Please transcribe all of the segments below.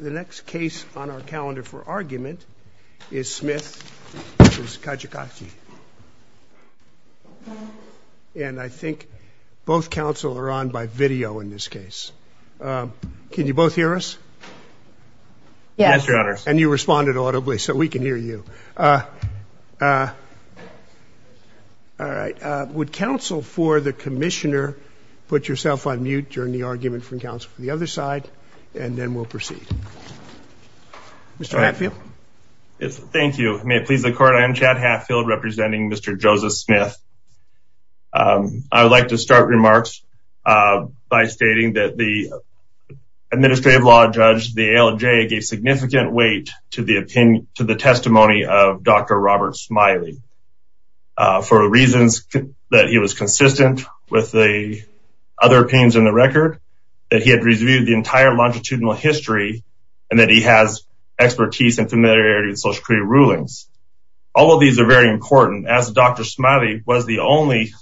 The next case on our calendar for argument is Smith v. Kijakazi, and I think both counsel are on by video in this case. Can you both hear us? Yes, Your Honor. And you responded audibly so we can hear you. All right. Would counsel for the commissioner put yourself on mute during the argument from counsel for the other side, and then we'll proceed. Mr Hatfield. Thank you. May it please the court. I am Chad Hatfield representing Mr. Joseph Smith. I would like to start remarks by stating that the administrative law judge, the ALJ gave significant weight to the testimony of Dr. Robert Smiley for reasons that he was that he had reviewed the entire longitudinal history, and that he has expertise and familiarity with social career rulings. All of these are very important as Dr. Smiley was the only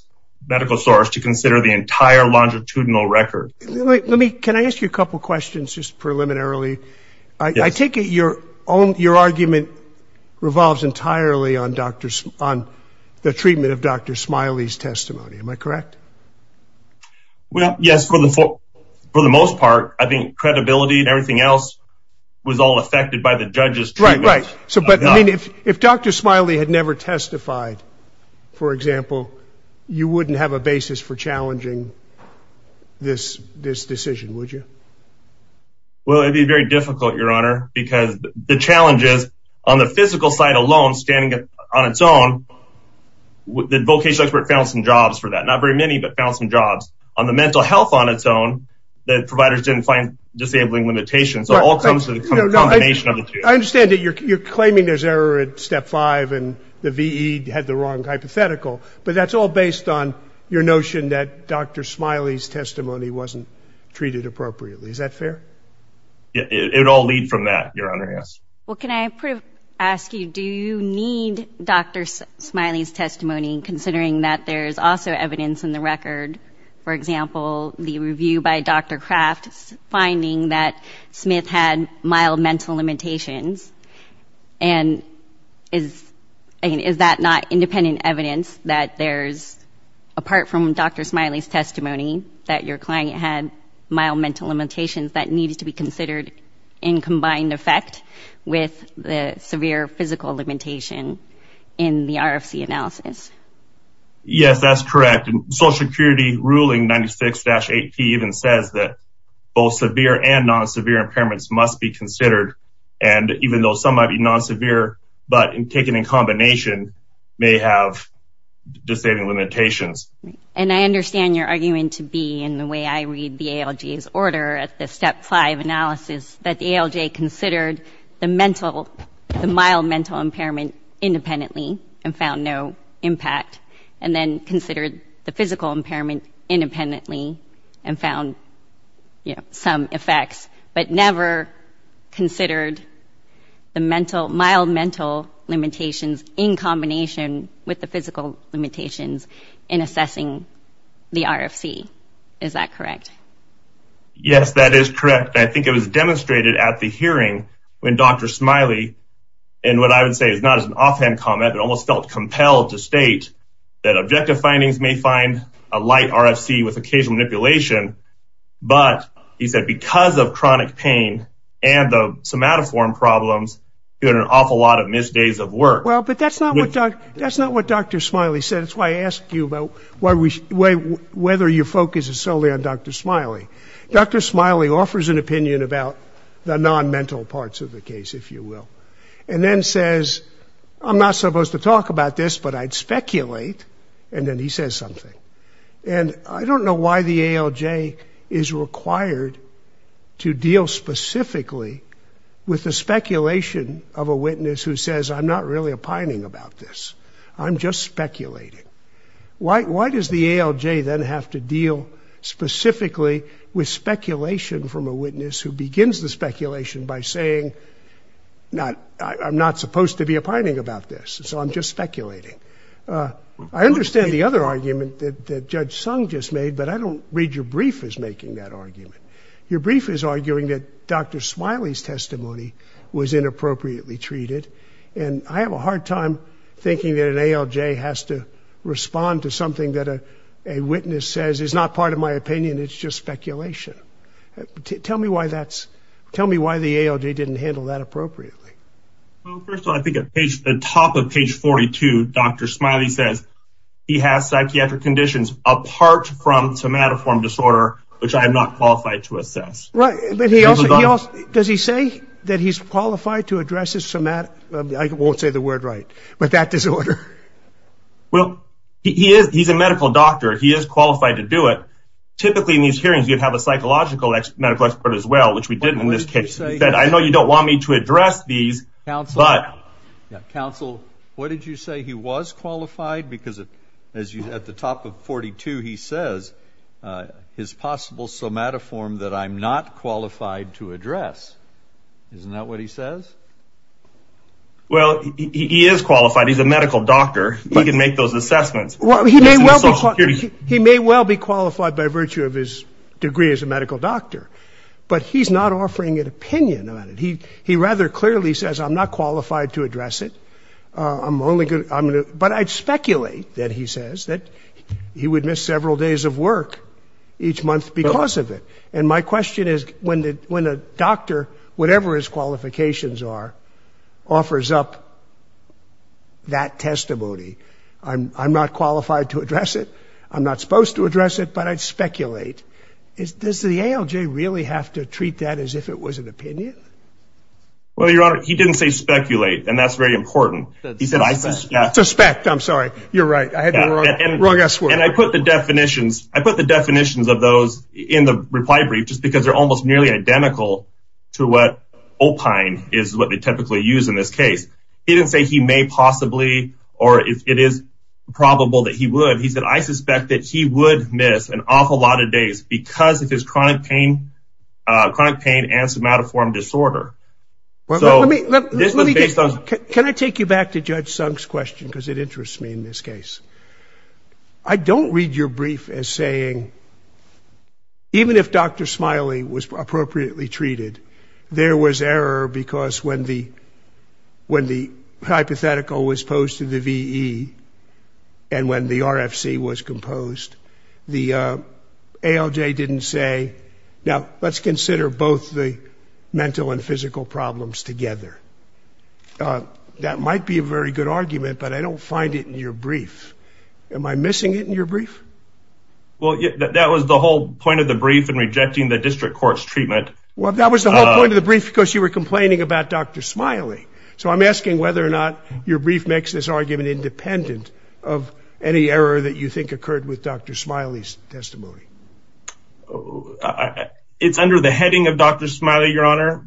medical source to consider the entire longitudinal record. Let me can I ask you a couple questions just preliminarily. I take it your own your argument revolves entirely on doctors on the floor. For the most part, I think credibility and everything else was all affected by the judges. Right, right. So but I mean, if if Dr. Smiley had never testified, for example, you wouldn't have a basis for challenging this, this decision, would you? Well, it'd be very difficult, Your Honor, because the challenges on the physical side alone, standing on its own, with the vocational expert found some jobs for that not very many, but found some jobs on the mental health on its own, that providers didn't find disabling limitations. So it all comes to the combination of the two. I understand that you're claiming there's error at step five, and the VE had the wrong hypothetical. But that's all based on your notion that Dr. Smiley's testimony wasn't treated appropriately. Is that fair? It all lead from that, Your Honor, yes. Well, can I ask you, do you need Dr. Smiley's testimony considering that there's also evidence in the record, for example, the review by Dr. Kraft, finding that Smith had mild mental limitations? And is, is that not independent evidence that there's, apart from Dr. Smiley's testimony, that your client had mild mental limitations that needs to be considered in combined effect with the severe physical limitation in the RFC analysis? Yes, that's correct. Social Security ruling 96-8P even says that both severe and non-severe impairments must be considered. And even though some might be non-severe, but taken in combination, may have disabling limitations. And I understand your argument to be, in the way I read the ALJ's order at the step five analysis, that the ALJ considered the mental, the mild mental impairment independently and found no impact, and then considered the physical impairment independently and found, you know, some effects, but never considered the mental, mild mental limitations in combination with the physical limitations in assessing the RFC. Is that correct? Yes, that is correct. I think it was demonstrated at the hearing when Dr. Smiley, and what I would say is not as an offhand comment, but almost felt compelled to state that objective findings may find a light RFC with occasional manipulation, but he said because of chronic pain and the somatoform problems, he had an awful lot of missed days of work. Well, but that's not what Dr. Smiley said. That's why I asked you about whether your focus is solely on Dr. Smiley. Dr. Smiley offers an opinion about the non-mental parts of the case, if you will, and then says, I'm not supposed to talk about this, but I'd speculate, and then he says something. And I don't know why the ALJ is required to deal specifically with the speculation of a witness who says, I'm not really opining about this. I'm just speculating. Why does the ALJ then have to deal specifically with speculation from a witness who begins the speculation by saying, I'm not supposed to be opining about this, so I'm just speculating? I understand the other argument that Judge Sung just made, but I don't read your brief as making that argument. Your brief is arguing that Dr. Smiley's testimony was inappropriately treated, and I have a hard time thinking that an ALJ has to respond to something that a witness says is not part of my opinion, it's just speculation. Tell me why the ALJ didn't handle that appropriately. Well, first of all, I think at the top of page 42, Dr. Smiley says he has psychiatric conditions apart from somatoform disorder, which I am not qualified to assess. Does he say that he's qualified to address his somat, I won't say the word right, but that you'd have a psychological medical expert as well, which we didn't in this case, that I know you don't want me to address these, but... Counsel, what did you say? He was qualified? Because at the top of 42, he says his possible somatoform that I'm not qualified to address. Isn't that what he says? Well, he is qualified. He's a medical doctor. He can make those assessments. Well, he may well be qualified by virtue of his degree as a medical doctor, but he's not offering an opinion on it. He rather clearly says I'm not qualified to address it, but I'd speculate that he says that he would miss several days of work each month because of it. And my question is when a doctor, whatever his qualifications are, offers up that testimony, I'm not qualified to address it, I'm not supposed to address it, but I'd speculate, does the ALJ really have to treat that as if it was an opinion? Well, Your Honor, he didn't say speculate, and that's very important. He said I suspect. Suspect, I'm sorry. You're right. I had the wrong S word. And I put the definitions of those in the reply brief just because they're almost nearly identical to what opine is what they typically use in this case. He didn't say he may possibly or it is probable that he would. He said I suspect that he would miss an awful lot of days because of his chronic pain, chronic pain and somatoform disorder. Can I take you back to Judge Sunk's question? Because it interests me in this case. I don't read your brief as saying, even if Dr. Smiley was appropriately treated, there was error because when the hypothetical was posed to the VE and when the RFC was composed, the ALJ didn't say, now, let's consider both the mental and physical problems together. Uh, that might be a very good argument, but I don't find it in your brief. Am I missing it in your brief? Well, that was the whole point of the brief and rejecting the district court's treatment. Well, that was the whole point of the brief because you were complaining about Dr. Smiley. So I'm asking whether or not your brief makes this argument independent of any error that you think occurred with Dr. Smiley's testimony. It's under the heading of Dr. Smiley,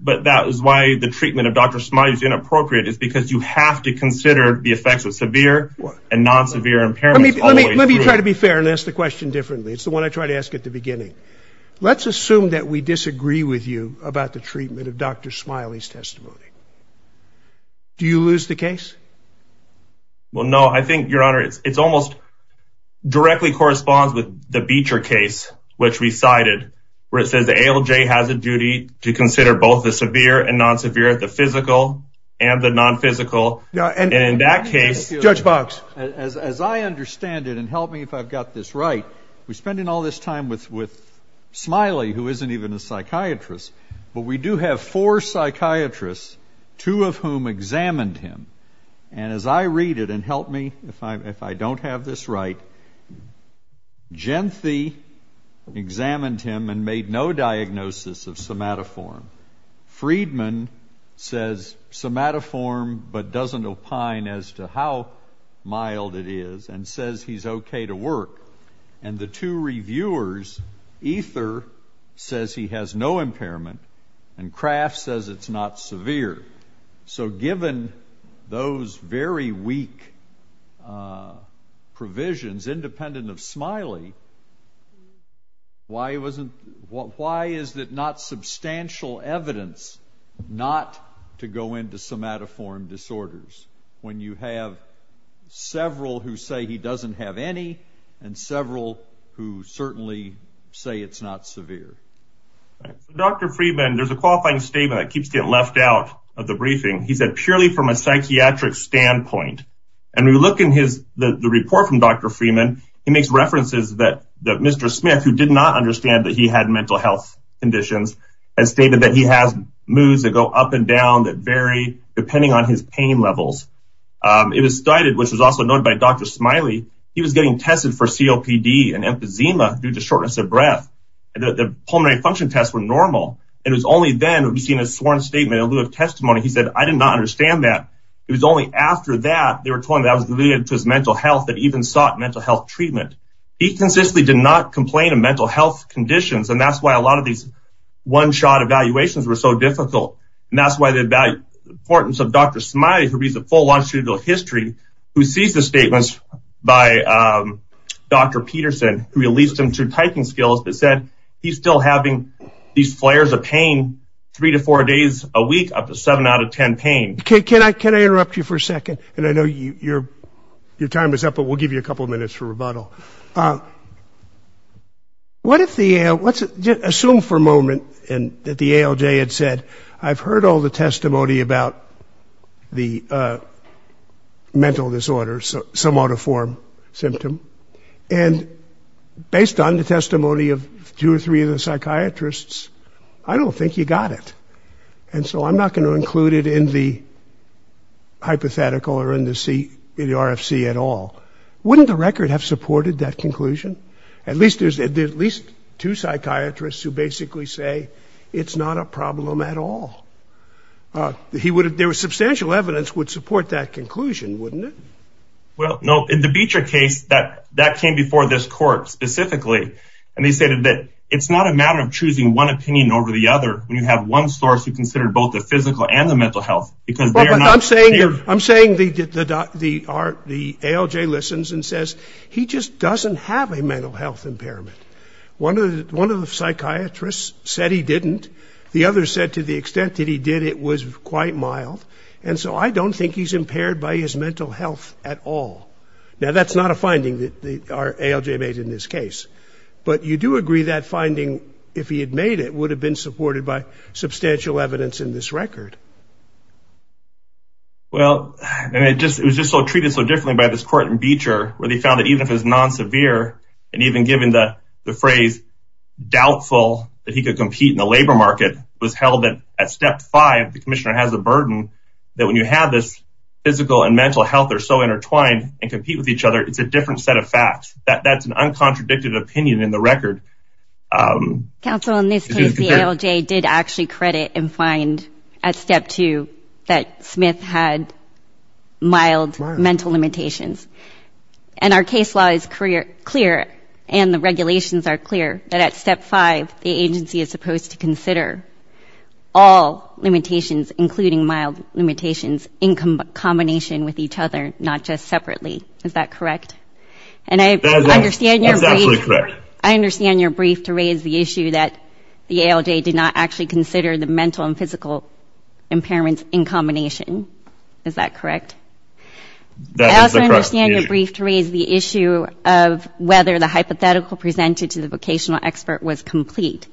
but that is why the treatment of Dr. Smiley is inappropriate. It's because you have to consider the effects of severe and non-severe impairments. Let me try to be fair and ask the question differently. It's the one I tried to ask at the beginning. Let's assume that we disagree with you about the treatment of Dr. Smiley's testimony. Do you lose the case? Well, no, I think, Your Honor, it's almost directly corresponds with the Beecher case, which recited where it has a duty to consider both the severe and non-severe, the physical and the non-physical. Now, in that case, Judge Box, as I understand it and help me if I've got this right, we're spending all this time with Smiley, who isn't even a psychiatrist, but we do have four psychiatrists, two of whom examined him. And as I read it and help me if I don't have this right, Genthe examined him and made no diagnosis of somatoform. Friedman says somatoform, but doesn't opine as to how mild it is and says he's okay to work. And the two reviewers, Ether says he has no impairment and Kraft says it's not severe. So given those very weak uh provisions independent of Smiley, why wasn't, why is it not substantial evidence not to go into somatoform disorders when you have several who say he doesn't have any and several who certainly say it's not severe? Dr. Friedman, there's a qualifying statement that keeps getting left out of the briefing. He said purely from a psychiatric standpoint, we look in the report from Dr. Friedman, he makes references that Mr. Smith, who did not understand that he had mental health conditions, has stated that he has moods that go up and down that vary depending on his pain levels. It was cited, which was also noted by Dr. Smiley, he was getting tested for COPD and emphysema due to shortness of breath. The pulmonary function tests were normal. It was only then we've seen a sworn statement in lieu of testimony. He said, I did not understand that. It was only after that they were told that was related to his mental health that even sought mental health treatment. He consistently did not complain of mental health conditions and that's why a lot of these one-shot evaluations were so difficult and that's why the importance of Dr. Smiley, who reads the full longitudinal history, who sees the statements by Dr. Peterson, who released him to typing skills that said he's still having these flares of pain three to four days a week up to seven out of ten pain. Okay, can I interrupt you for a second? And I know your time is up, but we'll give you a couple minutes for rebuttal. What if the, let's assume for a moment that the ALJ had said, I've heard all the testimony about the mental disorder, so some auto form symptom, and based on the testimony of two or three of the psychiatrists, I don't think you got it. And so I'm not going to include it in the hypothetical or in the RFC at all. Wouldn't the record have supported that conclusion? At least there's at least two psychiatrists who basically say it's not a problem at all. There was substantial evidence would support that conclusion, wouldn't it? Well, no, in the Beecher case that came before this court specifically, and they stated that it's not a matter of choosing one opinion over the other. When you have one source, you consider both the physical and the mental health, because they're not. I'm saying the ALJ listens and says he just doesn't have a mental health impairment. One of the psychiatrists said he didn't. The other said to the extent that he did, it was quite mild. And so I don't think he's impaired by his mental health at all. Now, that's not a finding that the ALJ made in this case. But you do agree that finding, if he had made it, would have been supported by substantial evidence in this record. Well, and it was just so treated so differently by this court in Beecher, where they found that even if it's non-severe, and even given the phrase doubtful that he could compete in the labor market, it was held that at step five, the commissioner has a burden that when you have this physical and mental health, they're so intertwined and compete with each other, it's a different set of facts. That's an uncontradicted opinion in the record. Counsel, in this case, the ALJ did actually credit and find at step two that Smith had mild mental limitations. And our case law is clear, and the regulations are clear, that at step five, the agency is supposed to consider all limitations, including mild limitations, in combination with each other, not just separately. Is that correct? And I understand your brief to raise the issue that the ALJ did not actually consider the mental and physical impairments in combination. Is that correct? I also understand your brief to raise the issue of whether the hypothetical presented to the vocational expert was complete.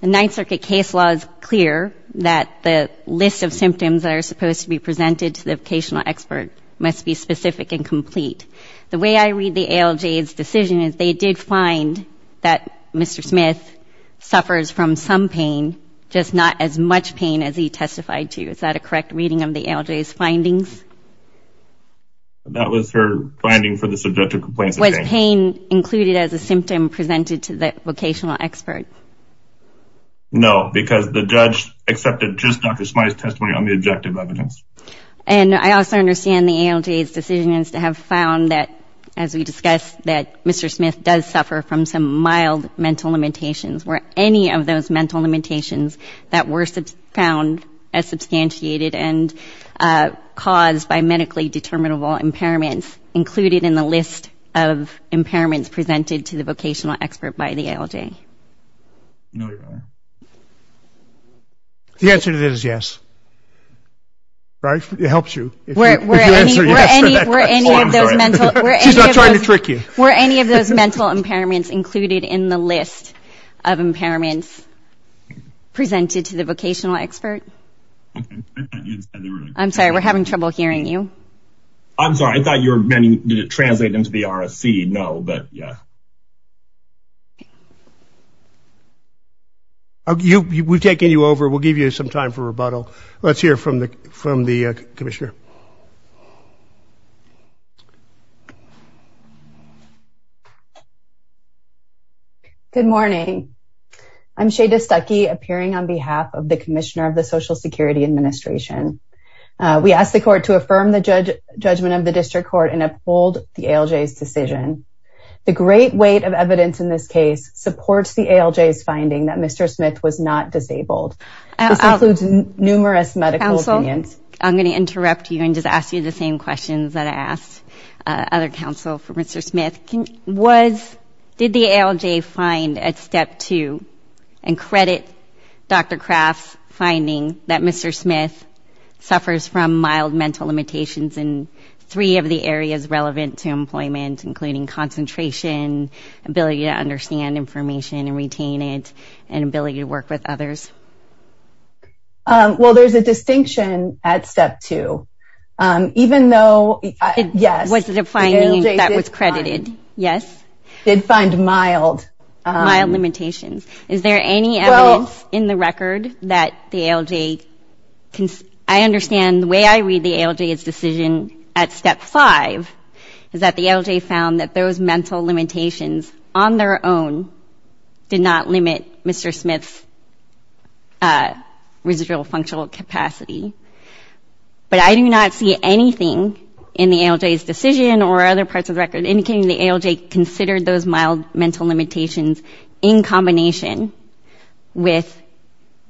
The Ninth Circuit case law is clear that the list of symptoms that are supposed to be presented to the vocational expert must be specific and complete. The way I read the ALJ's decision is they did find that Mr. Smith suffers from some pain, just not as much pain as he testified to. Is that a correct reading of the ALJ's findings? That was her finding for the subjective complaints. Was pain included as a symptom presented to the vocational expert? No, because the judge accepted just Dr. Smyth's testimony on the objective evidence. And I also understand the ALJ's decision is to have found that, as we discussed, that Mr. Smith does suffer from some mild mental limitations. Were any of those mental limitations that were found as substantiated and caused by medically determinable impairments included in the list of impairments presented to the vocational expert by the ALJ? The answer to this is yes. Right? It helps you. Were any of those mental impairments included in the list of impairments presented to the vocational expert? I'm sorry, we're having trouble hearing you. I'm sorry, I thought you were meant to translate into the RFC. No, but yeah. We've taken you over. We'll give you some time for rebuttal. Let's hear from the Commissioner. Good morning. I'm Shada Stuckey, appearing on behalf of the Commissioner of the Social Security Administration. We ask the Court to affirm the judgment of the District Court and uphold the ALJ's decision. The great weight of evidence in this case supports the ALJ's finding that Mr. Smyth was not disabled. This includes numerous medical opinions. I'm going to interrupt you and just ask you the same questions that I asked other counsel for Mr. Smyth. Did the ALJ find at Step 2 and credit Dr. Craft's finding that Mr. Smyth suffers from mild mental limitations in three of the areas relevant to employment, including concentration, ability to understand information and retain it, and ability to work with others? Well, there's a distinction at Step 2. Even though, yes, the ALJ did find mild limitations. Is there any evidence in the record that the ALJ, I understand the way I read the ALJ's decision at Step 5 is that the ALJ found that those mental limitations on their own did not affect residual functional capacity. But I do not see anything in the ALJ's decision or other parts of the record indicating the ALJ considered those mild mental limitations in combination with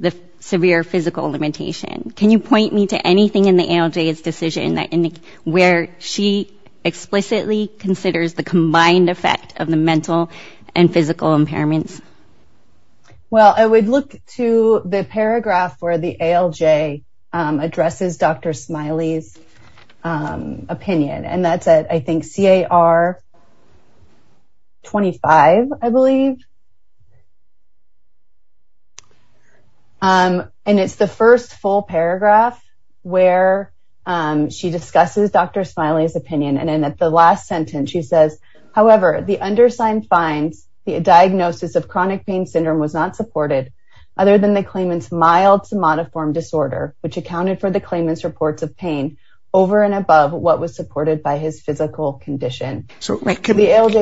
the severe physical limitation. Can you point me to anything in the ALJ's decision where she explicitly considers the combined effect of the mental and physical impairments? Well, I would look to the paragraph where the ALJ addresses Dr. Smiley's opinion. And that's at, I think, CAR 25, I believe. And it's the first full paragraph where she discusses Dr. Smiley's opinion. And in the last paragraph, the ALJ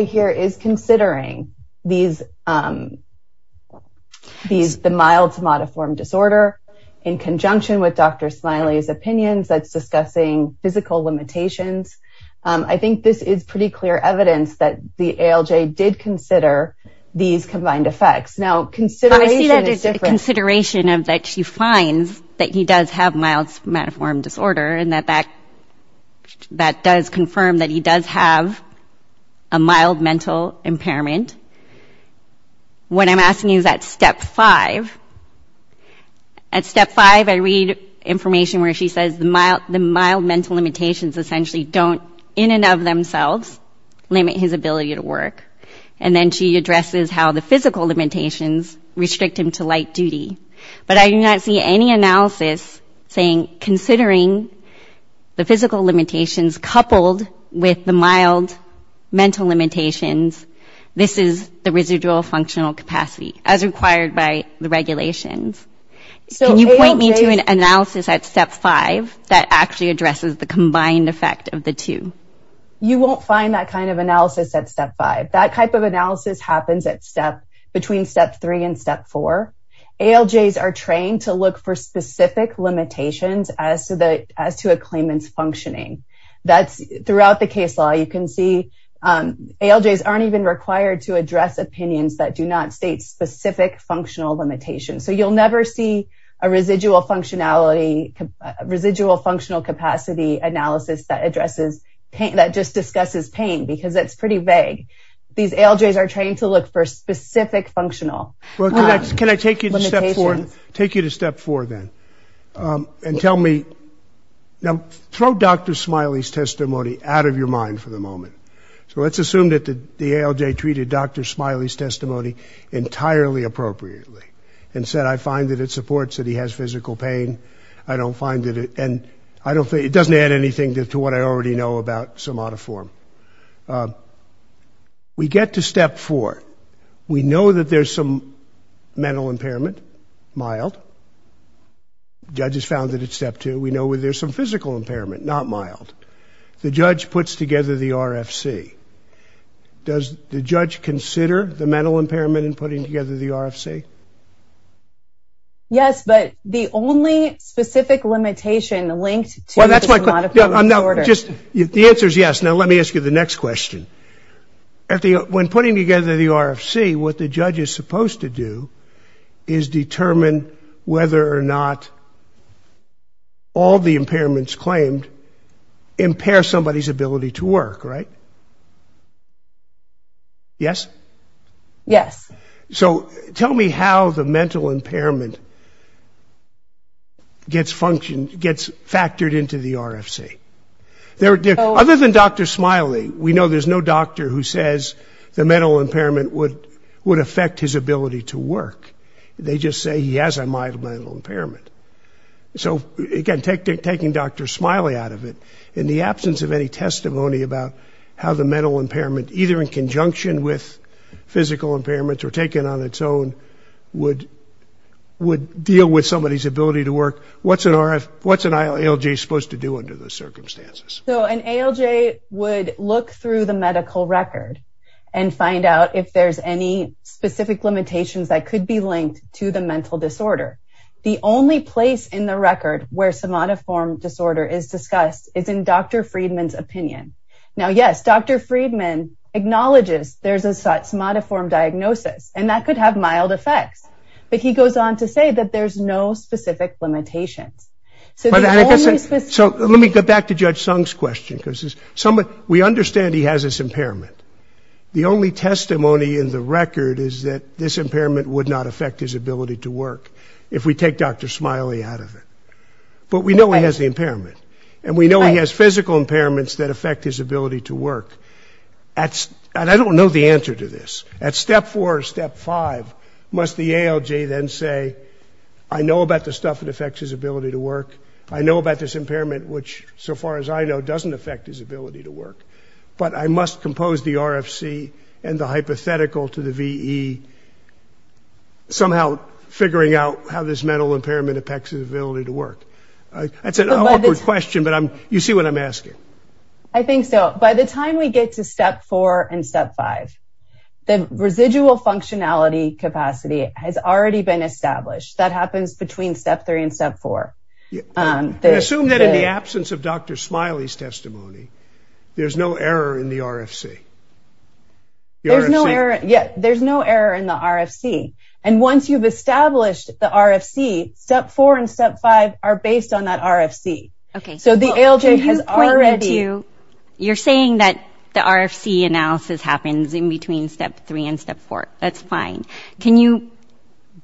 here is considering the mild somatoform disorder in conjunction with Dr. Smiley's opinions that's discussing physical limitations. I think this is pretty clear evidence that the ALJ did consider these combined effects. Now, consideration is different. Consideration of that she finds that he does have mild somatoform disorder and that that does confirm that he does have a mild mental impairment. What I'm asking you is at Step 5. At Step 5, I read information where she says the mild mental limitations essentially don't in and of themselves limit his ability to work. And then she addresses how the physical limitations restrict him to light duty. But I do not see any analysis saying considering the physical limitations coupled with the mild mental limitations, this is the residual functional capacity as required by the regulations. Can you point me to an analysis at Step 5 that actually you won't find that kind of analysis at Step 5. That type of analysis happens at step between Step 3 and Step 4. ALJs are trained to look for specific limitations as to a claimant's functioning. Throughout the case law, you can see ALJs aren't even required to address opinions that do not state specific functional limitations. So, you'll never see a residual functionality, residual functional capacity analysis that just discusses pain because it's pretty vague. These ALJs are trained to look for specific functional limitations. Can I take you to Step 4 then? And tell me, now throw Dr. Smiley's testimony out of your mind for the moment. So, let's assume that the ALJ treated Dr. Smiley's testimony entirely appropriately and said, I find that it supports that he has physical pain. I don't find that it doesn't add anything to what I already know about somatoform. We get to Step 4. We know that there's some mental impairment, mild. Judges found that at Step 2. We know that there's some physical impairment, not mild. The judge puts together the RFC. Does the judge consider the mental impairment? Yes, but the only specific limitation linked to the somatoform disorder. Just, the answer is yes. Now, let me ask you the next question. When putting together the RFC, what the judge is supposed to do is determine whether or not all the impairments claimed impair somebody's ability to work, right? Yes? Yes. So, tell me how the mental impairment gets functioned, gets factored into the RFC. Other than Dr. Smiley, we know there's no doctor who says the mental impairment would affect his ability to work. They just say he has a mild mental impairment. So, again, taking Dr. Smiley out of it, in the absence of any testimony about how the mental impairment, either in conjunction with physical impairments or taken on its own, would deal with somebody's ability to work, what's an ALJ supposed to do under those circumstances? So, an ALJ would look through the medical record and find out if there's any specific limitations that could be linked to the mental disorder. The only place in the record where somatoform disorder is discussed is in Dr. Friedman's opinion. Now, yes, Dr. Friedman acknowledges there's a somatoform diagnosis, and that could have mild effects, but he goes on to say that there's no specific limitations. So, let me go back to Judge Sung's question. We understand he has this impairment. The only testimony in the record is that this impairment would not affect his ability to work if we take Dr. Smiley out of it. But we know he has the impairment, and we know he has physical impairments that affect his ability to work. And I don't know the answer to this. At step four or step five, must the ALJ then say, I know about the stuff that affects his ability to work. I know about this impairment, which, so far as I know, doesn't affect his ability to work. But I must compose the RFC and the hypothetical to the VE somehow figuring out how this mental impairment affects his ability to work. That's an awkward question, but you see what I'm asking. I think so. By the time we get to step four and step five, the residual functionality capacity has already been established. That happens between step three and step four. Assume that in the absence of Dr. Smiley's testimony, there's no error in the RFC. Yeah, there's no error in the RFC. And once you've established the RFC, step four and step five are based on that RFC. Okay, so the ALJ has already... You're saying that the RFC analysis happens in between step three and step four. That's fine. Can you,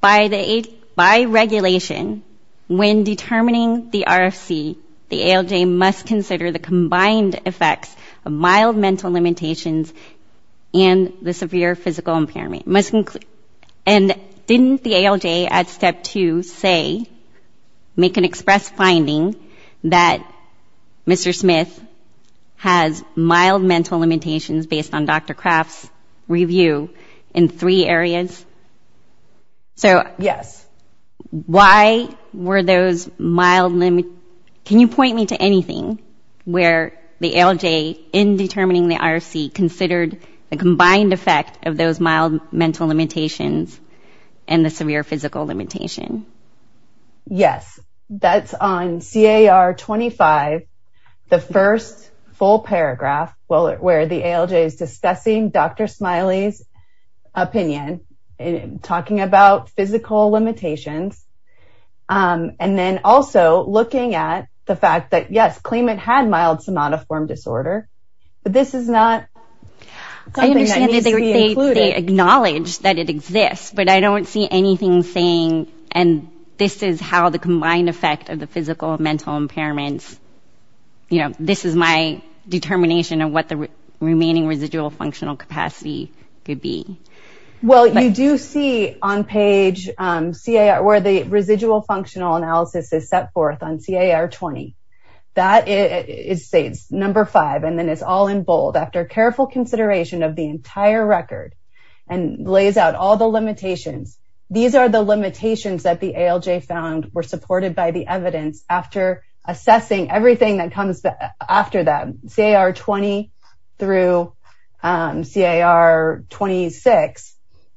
by regulation, when determining the RFC, the ALJ must consider the combined effects of mild mental limitations and the severe physical impairment. And didn't the ALJ at step two say, make an express finding that Mr. Smith has mild mental limitations based on Dr. Craft's review in three areas? Yes. Can you point me to anything where the ALJ, in determining the RFC, considered the combined effect of those mild mental limitations and the severe physical limitation? Yes, that's on CAR 25, the first full paragraph, where the ALJ is discussing Dr. Smiley's opinion, talking about physical limitations. And then also looking at the fact that yes, claimant had mild somatoform disorder, but this is not something that needs to be included. They acknowledge that it exists, but I don't see anything saying, and this is how the combined effect of the physical and mental impairments, you know, this is my determination of what the remaining residual functional capacity could be. Well, you do see on page CAR, where the residual functional analysis is set forth on CAR 20. That is, say, it's number five, and then it's all in and lays out all the limitations. These are the limitations that the ALJ found were supported by the evidence after assessing everything that comes after that. CAR 20 through CAR 26,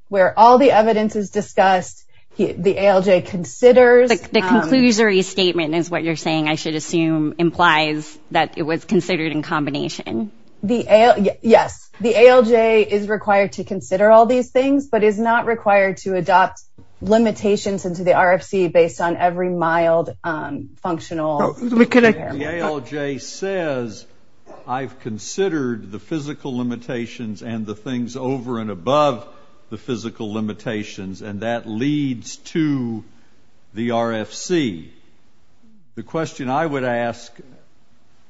where all the evidence is discussed, the ALJ considers... The conclusory statement is what you're saying, I should assume, implies that it was considered in combination. The ALJ, yes. The ALJ is required to consider all these things, but is not required to adopt limitations into the RFC based on every mild functional impairment. The ALJ says, I've considered the physical limitations and the things over and above the physical limitations, and that leads to the RFC. The question I would ask,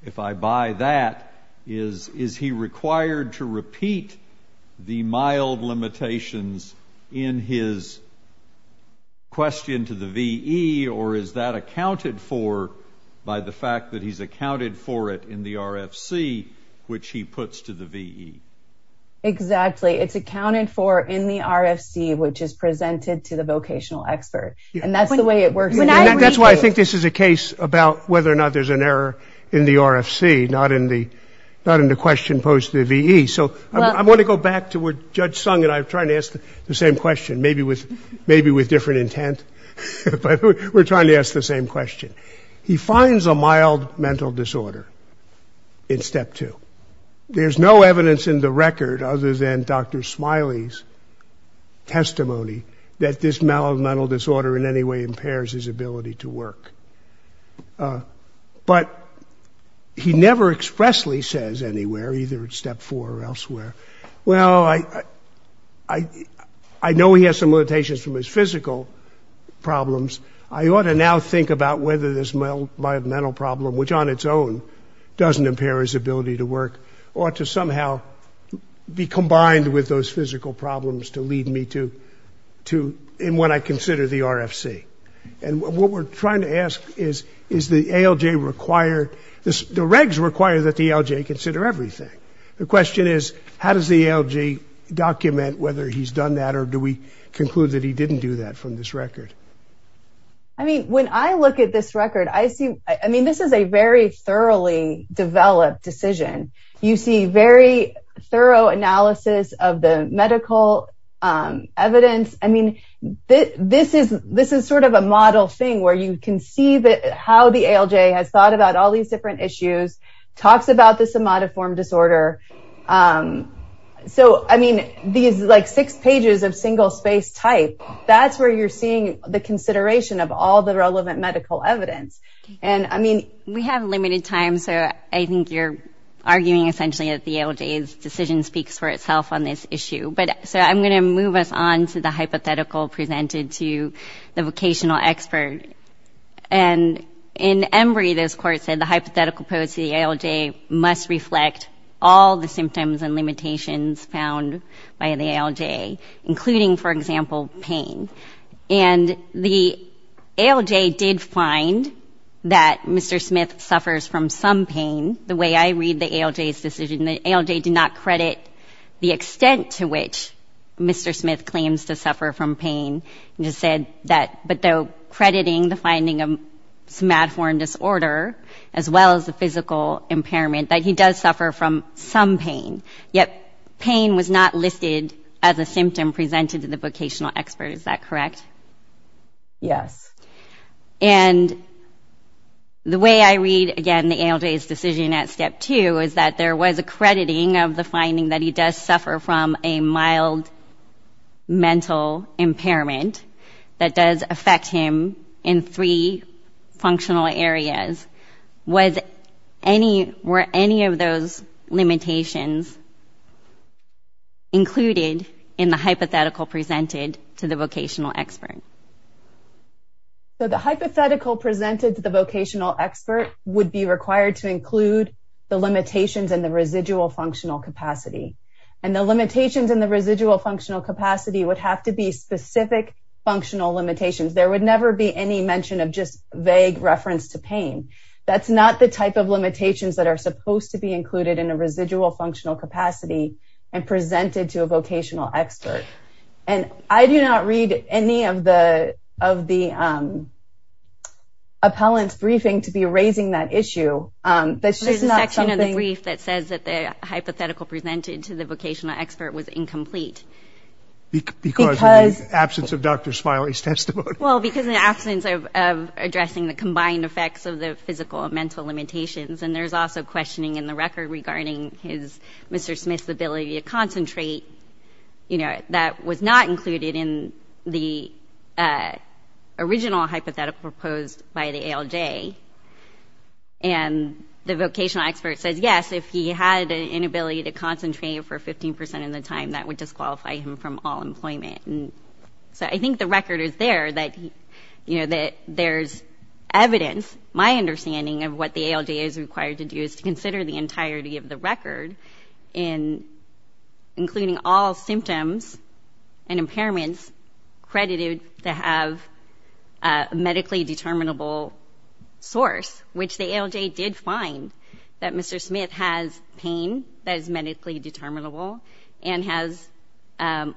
if I buy that, is, is he required to repeat the mild limitations in his question to the VE, or is that accounted for by the fact that he's accounted for it in the RFC, which he puts to the VE? Exactly. It's accounted for in the RFC, which is presented to the vocational expert, and that's the way it works. That's why I think this is a case about whether or not there's an impairment in the RFC, not in the question posed to the VE. So I want to go back to where Judge Sung and I were trying to ask the same question, maybe with different intent, but we're trying to ask the same question. He finds a mild mental disorder in Step 2. There's no evidence in the record, other than Dr. Smiley's testimony, that this mild mental disorder in any way impairs his ability to work. He never expressly says anywhere, either at Step 4 or elsewhere, well, I know he has some limitations from his physical problems. I ought to now think about whether this mild mental problem, which on its own doesn't impair his ability to work, ought to somehow be combined with those physical problems to lead me to what I consider the RFC. And what we're trying to ask is, is the ALJ required, the regs require that the ALJ consider everything. The question is, how does the ALJ document whether he's done that, or do we conclude that he didn't do that from this record? I mean, when I look at this record, I see, I mean, this is a very thoroughly developed decision. You see very thorough analysis of the model thing, where you can see how the ALJ has thought about all these different issues, talks about the somatoform disorder. So, I mean, these six pages of single space type, that's where you're seeing the consideration of all the relevant medical evidence. We have limited time, so I think you're arguing essentially that the ALJ's decision speaks for itself on this issue. So, I'm going to move us on to the hypothetical presented to the vocational expert. And in Emory, this court said the hypothetical post of the ALJ must reflect all the symptoms and limitations found by the ALJ, including, for example, pain. And the ALJ did find that Mr. Smith suffers from some pain. The way I read the ALJ's decision, the ALJ did not credit the extent to which Mr. Smith claims to suffer from pain, and just said that, but though crediting the finding of somatoform disorder, as well as the physical impairment, that he does suffer from some pain, yet pain was not listed as a symptom presented to the vocational expert. Is that correct? Yes. And the way I read, again, the ALJ's decision at step two is that there was a crediting of finding that he does suffer from a mild mental impairment that does affect him in three functional areas. Were any of those limitations included in the hypothetical presented to the vocational expert? So, the hypothetical presented to the vocational expert would be required to include the residual functional capacity. And the limitations in the residual functional capacity would have to be specific functional limitations. There would never be any mention of just vague reference to pain. That's not the type of limitations that are supposed to be included in a residual functional capacity and presented to a vocational expert. And I do not read any of the appellant's briefing to be raising that issue. That's just not something... There's a section of the brief that says that the hypothetical presented to the vocational expert was incomplete. Because of the absence of Dr. Smiley's testimony. Well, because of the absence of addressing the combined effects of the physical and mental limitations. And there's also questioning in the record regarding Mr. Smith's ability to concentrate that was not included in the original hypothetical proposed by the ALJ. And the vocational expert says, yes, if he had an inability to concentrate for 15% of the time, that would disqualify him from all employment. So, I think the record is there that there's evidence. My understanding of what the ALJ is required to do is to consider the entirety of the record in including all symptoms and impairments credited to have a medically determinable source, which the ALJ did find that Mr. Smith has pain that is medically determinable and has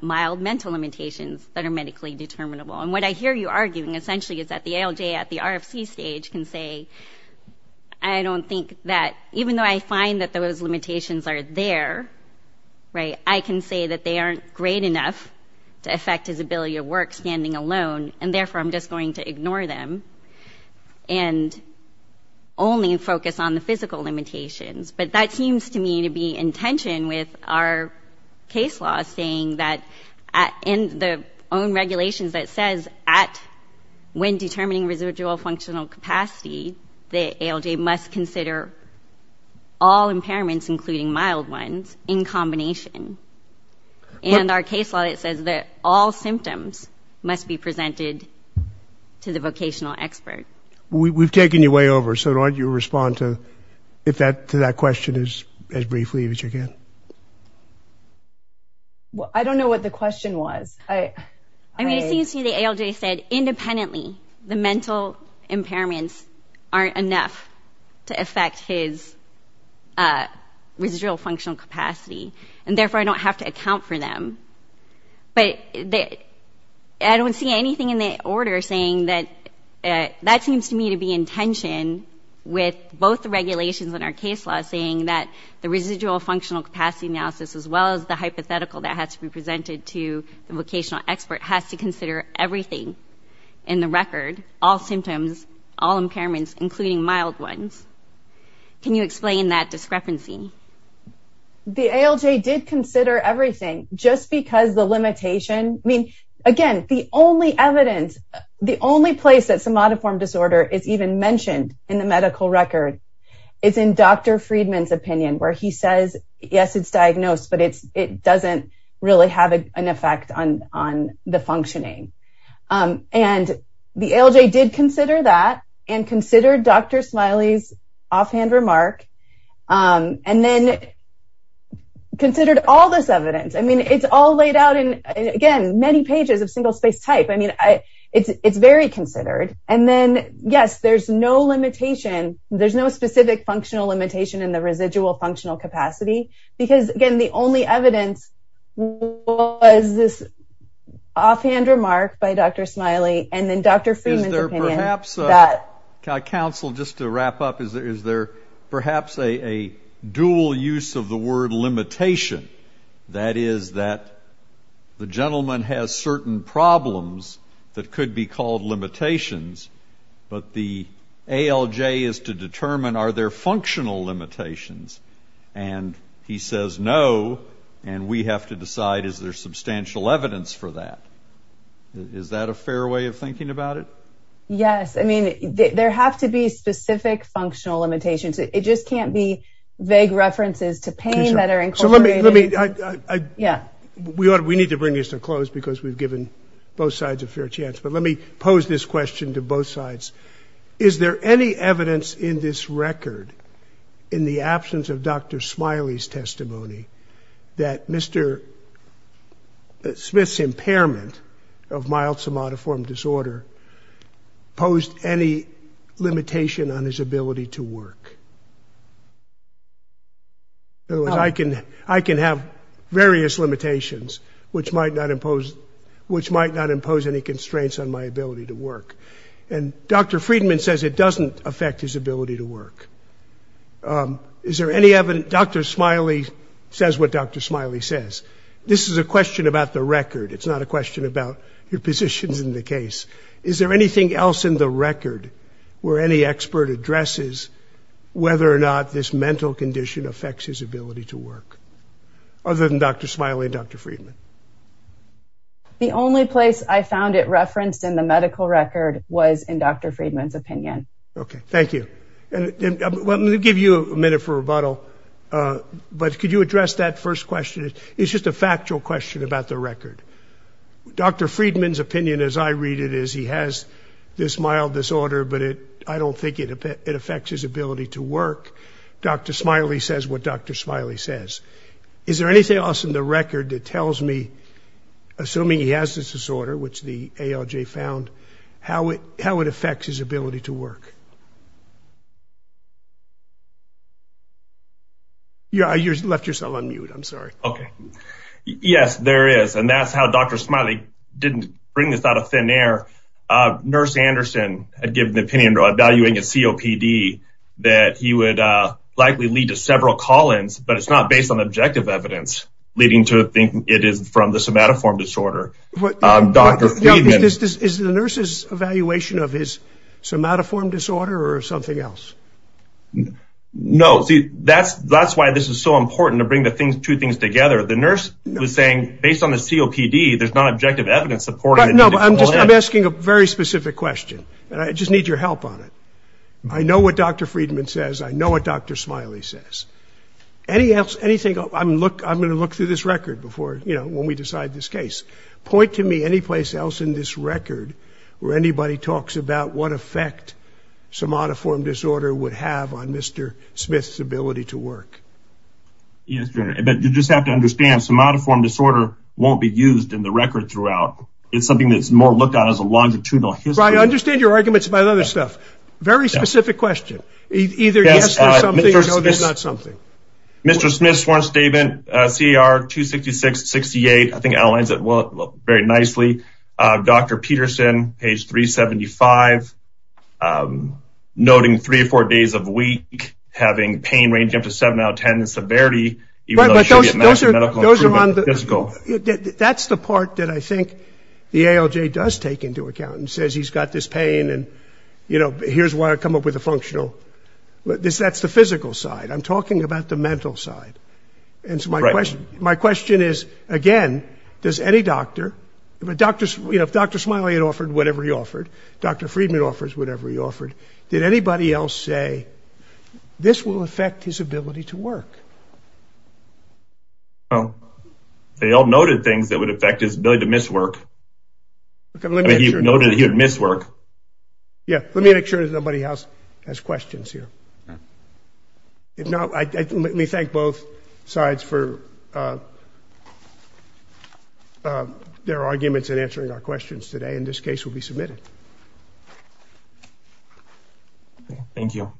mild mental limitations that are medically determinable. And what I hear you arguing essentially is that the ALJ at the RFC stage can say, I don't think that even though I find that those limitations are there, right, I can say that they aren't great enough to affect his ability to work standing alone. And therefore, I'm just going to ignore them and only focus on the physical limitations. But that seems to me to be in tension with our case law saying that in the own regulations that says at when determining residual functional capacity, the ALJ must consider all impairments, including mild ones, in combination. And our case law says that all symptoms must be presented to the vocational expert. We've taken you way over, so why don't you respond to that question as briefly as you can. I don't know what the question was. I mean, it seems to me the ALJ said independently the mental impairments aren't enough to affect his residual functional capacity. And therefore, I don't have to account for them. But I don't see anything in the order saying that that seems to me to be in tension with both the regulations in our case law saying that the residual functional capacity analysis as well as the hypothetical that has to be presented to the vocational expert has to consider everything in the record, all symptoms, all impairments, including mild ones. Can you explain that discrepancy? The ALJ did consider everything just because the limitation, I mean, again, the only evidence, the only place that somatoform disorder is even mentioned in the medical record is in Dr. Friedman's opinion, where he says, yes, it's diagnosed, but it doesn't really have an effect on the functioning. And the ALJ did consider that and considered Dr. Smiley's offhand remark and then considered all this evidence. I mean, it's all laid out in, again, many pages of single space type. I mean, it's very considered. And then, yes, there's no limitation. There's no specific functional limitation in the residual functional capacity. Because, again, the only evidence was this offhand remark by Dr. Smiley and then Dr. Friedman's opinion. Is there perhaps, counsel, just to wrap up, is there perhaps a dual use of the word limitation? That is that the gentleman has certain problems that could be called limitations, but the ALJ is to determine, are there functional limitations? And he says, no, and we have to decide, is there substantial evidence for that? Is that a fair way of thinking about it? Yes. I mean, there have to be specific functional limitations. It just can't be vague references to pain that are incorporated. So let me, we need to bring this to a close because we've given both sides a fair chance, but let me pose this question to both sides. Is there any evidence in this record, in the absence of Dr. Smiley's testimony, that Mr. Smith's impairment of mild somatoform disorder posed any limitation on his ability to work? In other words, I can have various limitations which might not impose any constraints on my ability to work. And Dr. Friedman says it doesn't affect his ability to work. Is there any evidence, Dr. Smiley says what Dr. Smiley says. This is a question about the record. It's not a question about your positions in the case. Is there anything else in the record where any expert addresses whether or not this mental condition affects his ability to work, other than Dr. Smiley and Dr. Friedman? The only place I found it referenced in the medical record was in Dr. Friedman's opinion. Okay, thank you. And let me give you a minute for rebuttal, but could you address that first question? It's just a factual question about the record. Dr. Friedman's opinion, as I read it, is he has this mild disorder, but I don't think it affects his ability to work. Dr. Smiley says what Dr. Smiley says. Is there anything else in the record that tells me, assuming he has this disorder, which the ALJ found, how it affects his ability to work? You left yourself on mute, I'm sorry. Okay, yes, there is, and that's how Dr. Smiley didn't bring this out of thin air. Nurse Anderson had given the opinion evaluating a COPD that he would likely lead to several call-ins, but it's not based on objective evidence, leading to think it is from the somatoform disorder. Is the nurse's evaluation of his somatoform disorder or something else? No, see, that's why this is so important to bring the two things together. The nurse was saying, based on the COPD, there's not objective evidence supporting it. No, I'm just asking a very specific question, and I just need your help on it. I know what Dr. Friedman says. I know what Dr. Smiley says. Anything else? I'm going to look through this record before, you know, when we decide this case. Point to me any place else in this record where anybody talks about what effect somatoform disorder would have on Mr. Smith's ability to work. Yes, but you just have to understand, somatoform disorder won't be used in the record throughout. It's something that's more looked at as a longitudinal history. I understand your arguments about other stuff. Very specific question. Either yes to something, or no, there's not something. Mr. Smith's sworn statement, CAR-266-68, I think outlines it very nicely. Dr. Peterson, page 375, noting three or four days a week, having pain ranging up to 7 out of 10 in severity. That's the part that I think the ALJ does take into account and says he's got this pain, and here's why I come up with a functional. That's the physical side. I'm talking about the mental side. And so my question is, again, does any doctor, you know, if Dr. Smiley had offered whatever he offered, Dr. Friedman offers whatever he offered, did anybody else say this will affect his ability to work? Well, they all noted things that would affect his ability to miss work. I mean, he noted he would miss work. Yeah, let me make sure nobody else has questions here. If not, let me thank both sides for their arguments in answering our questions today, and this case will be submitted. Thank you.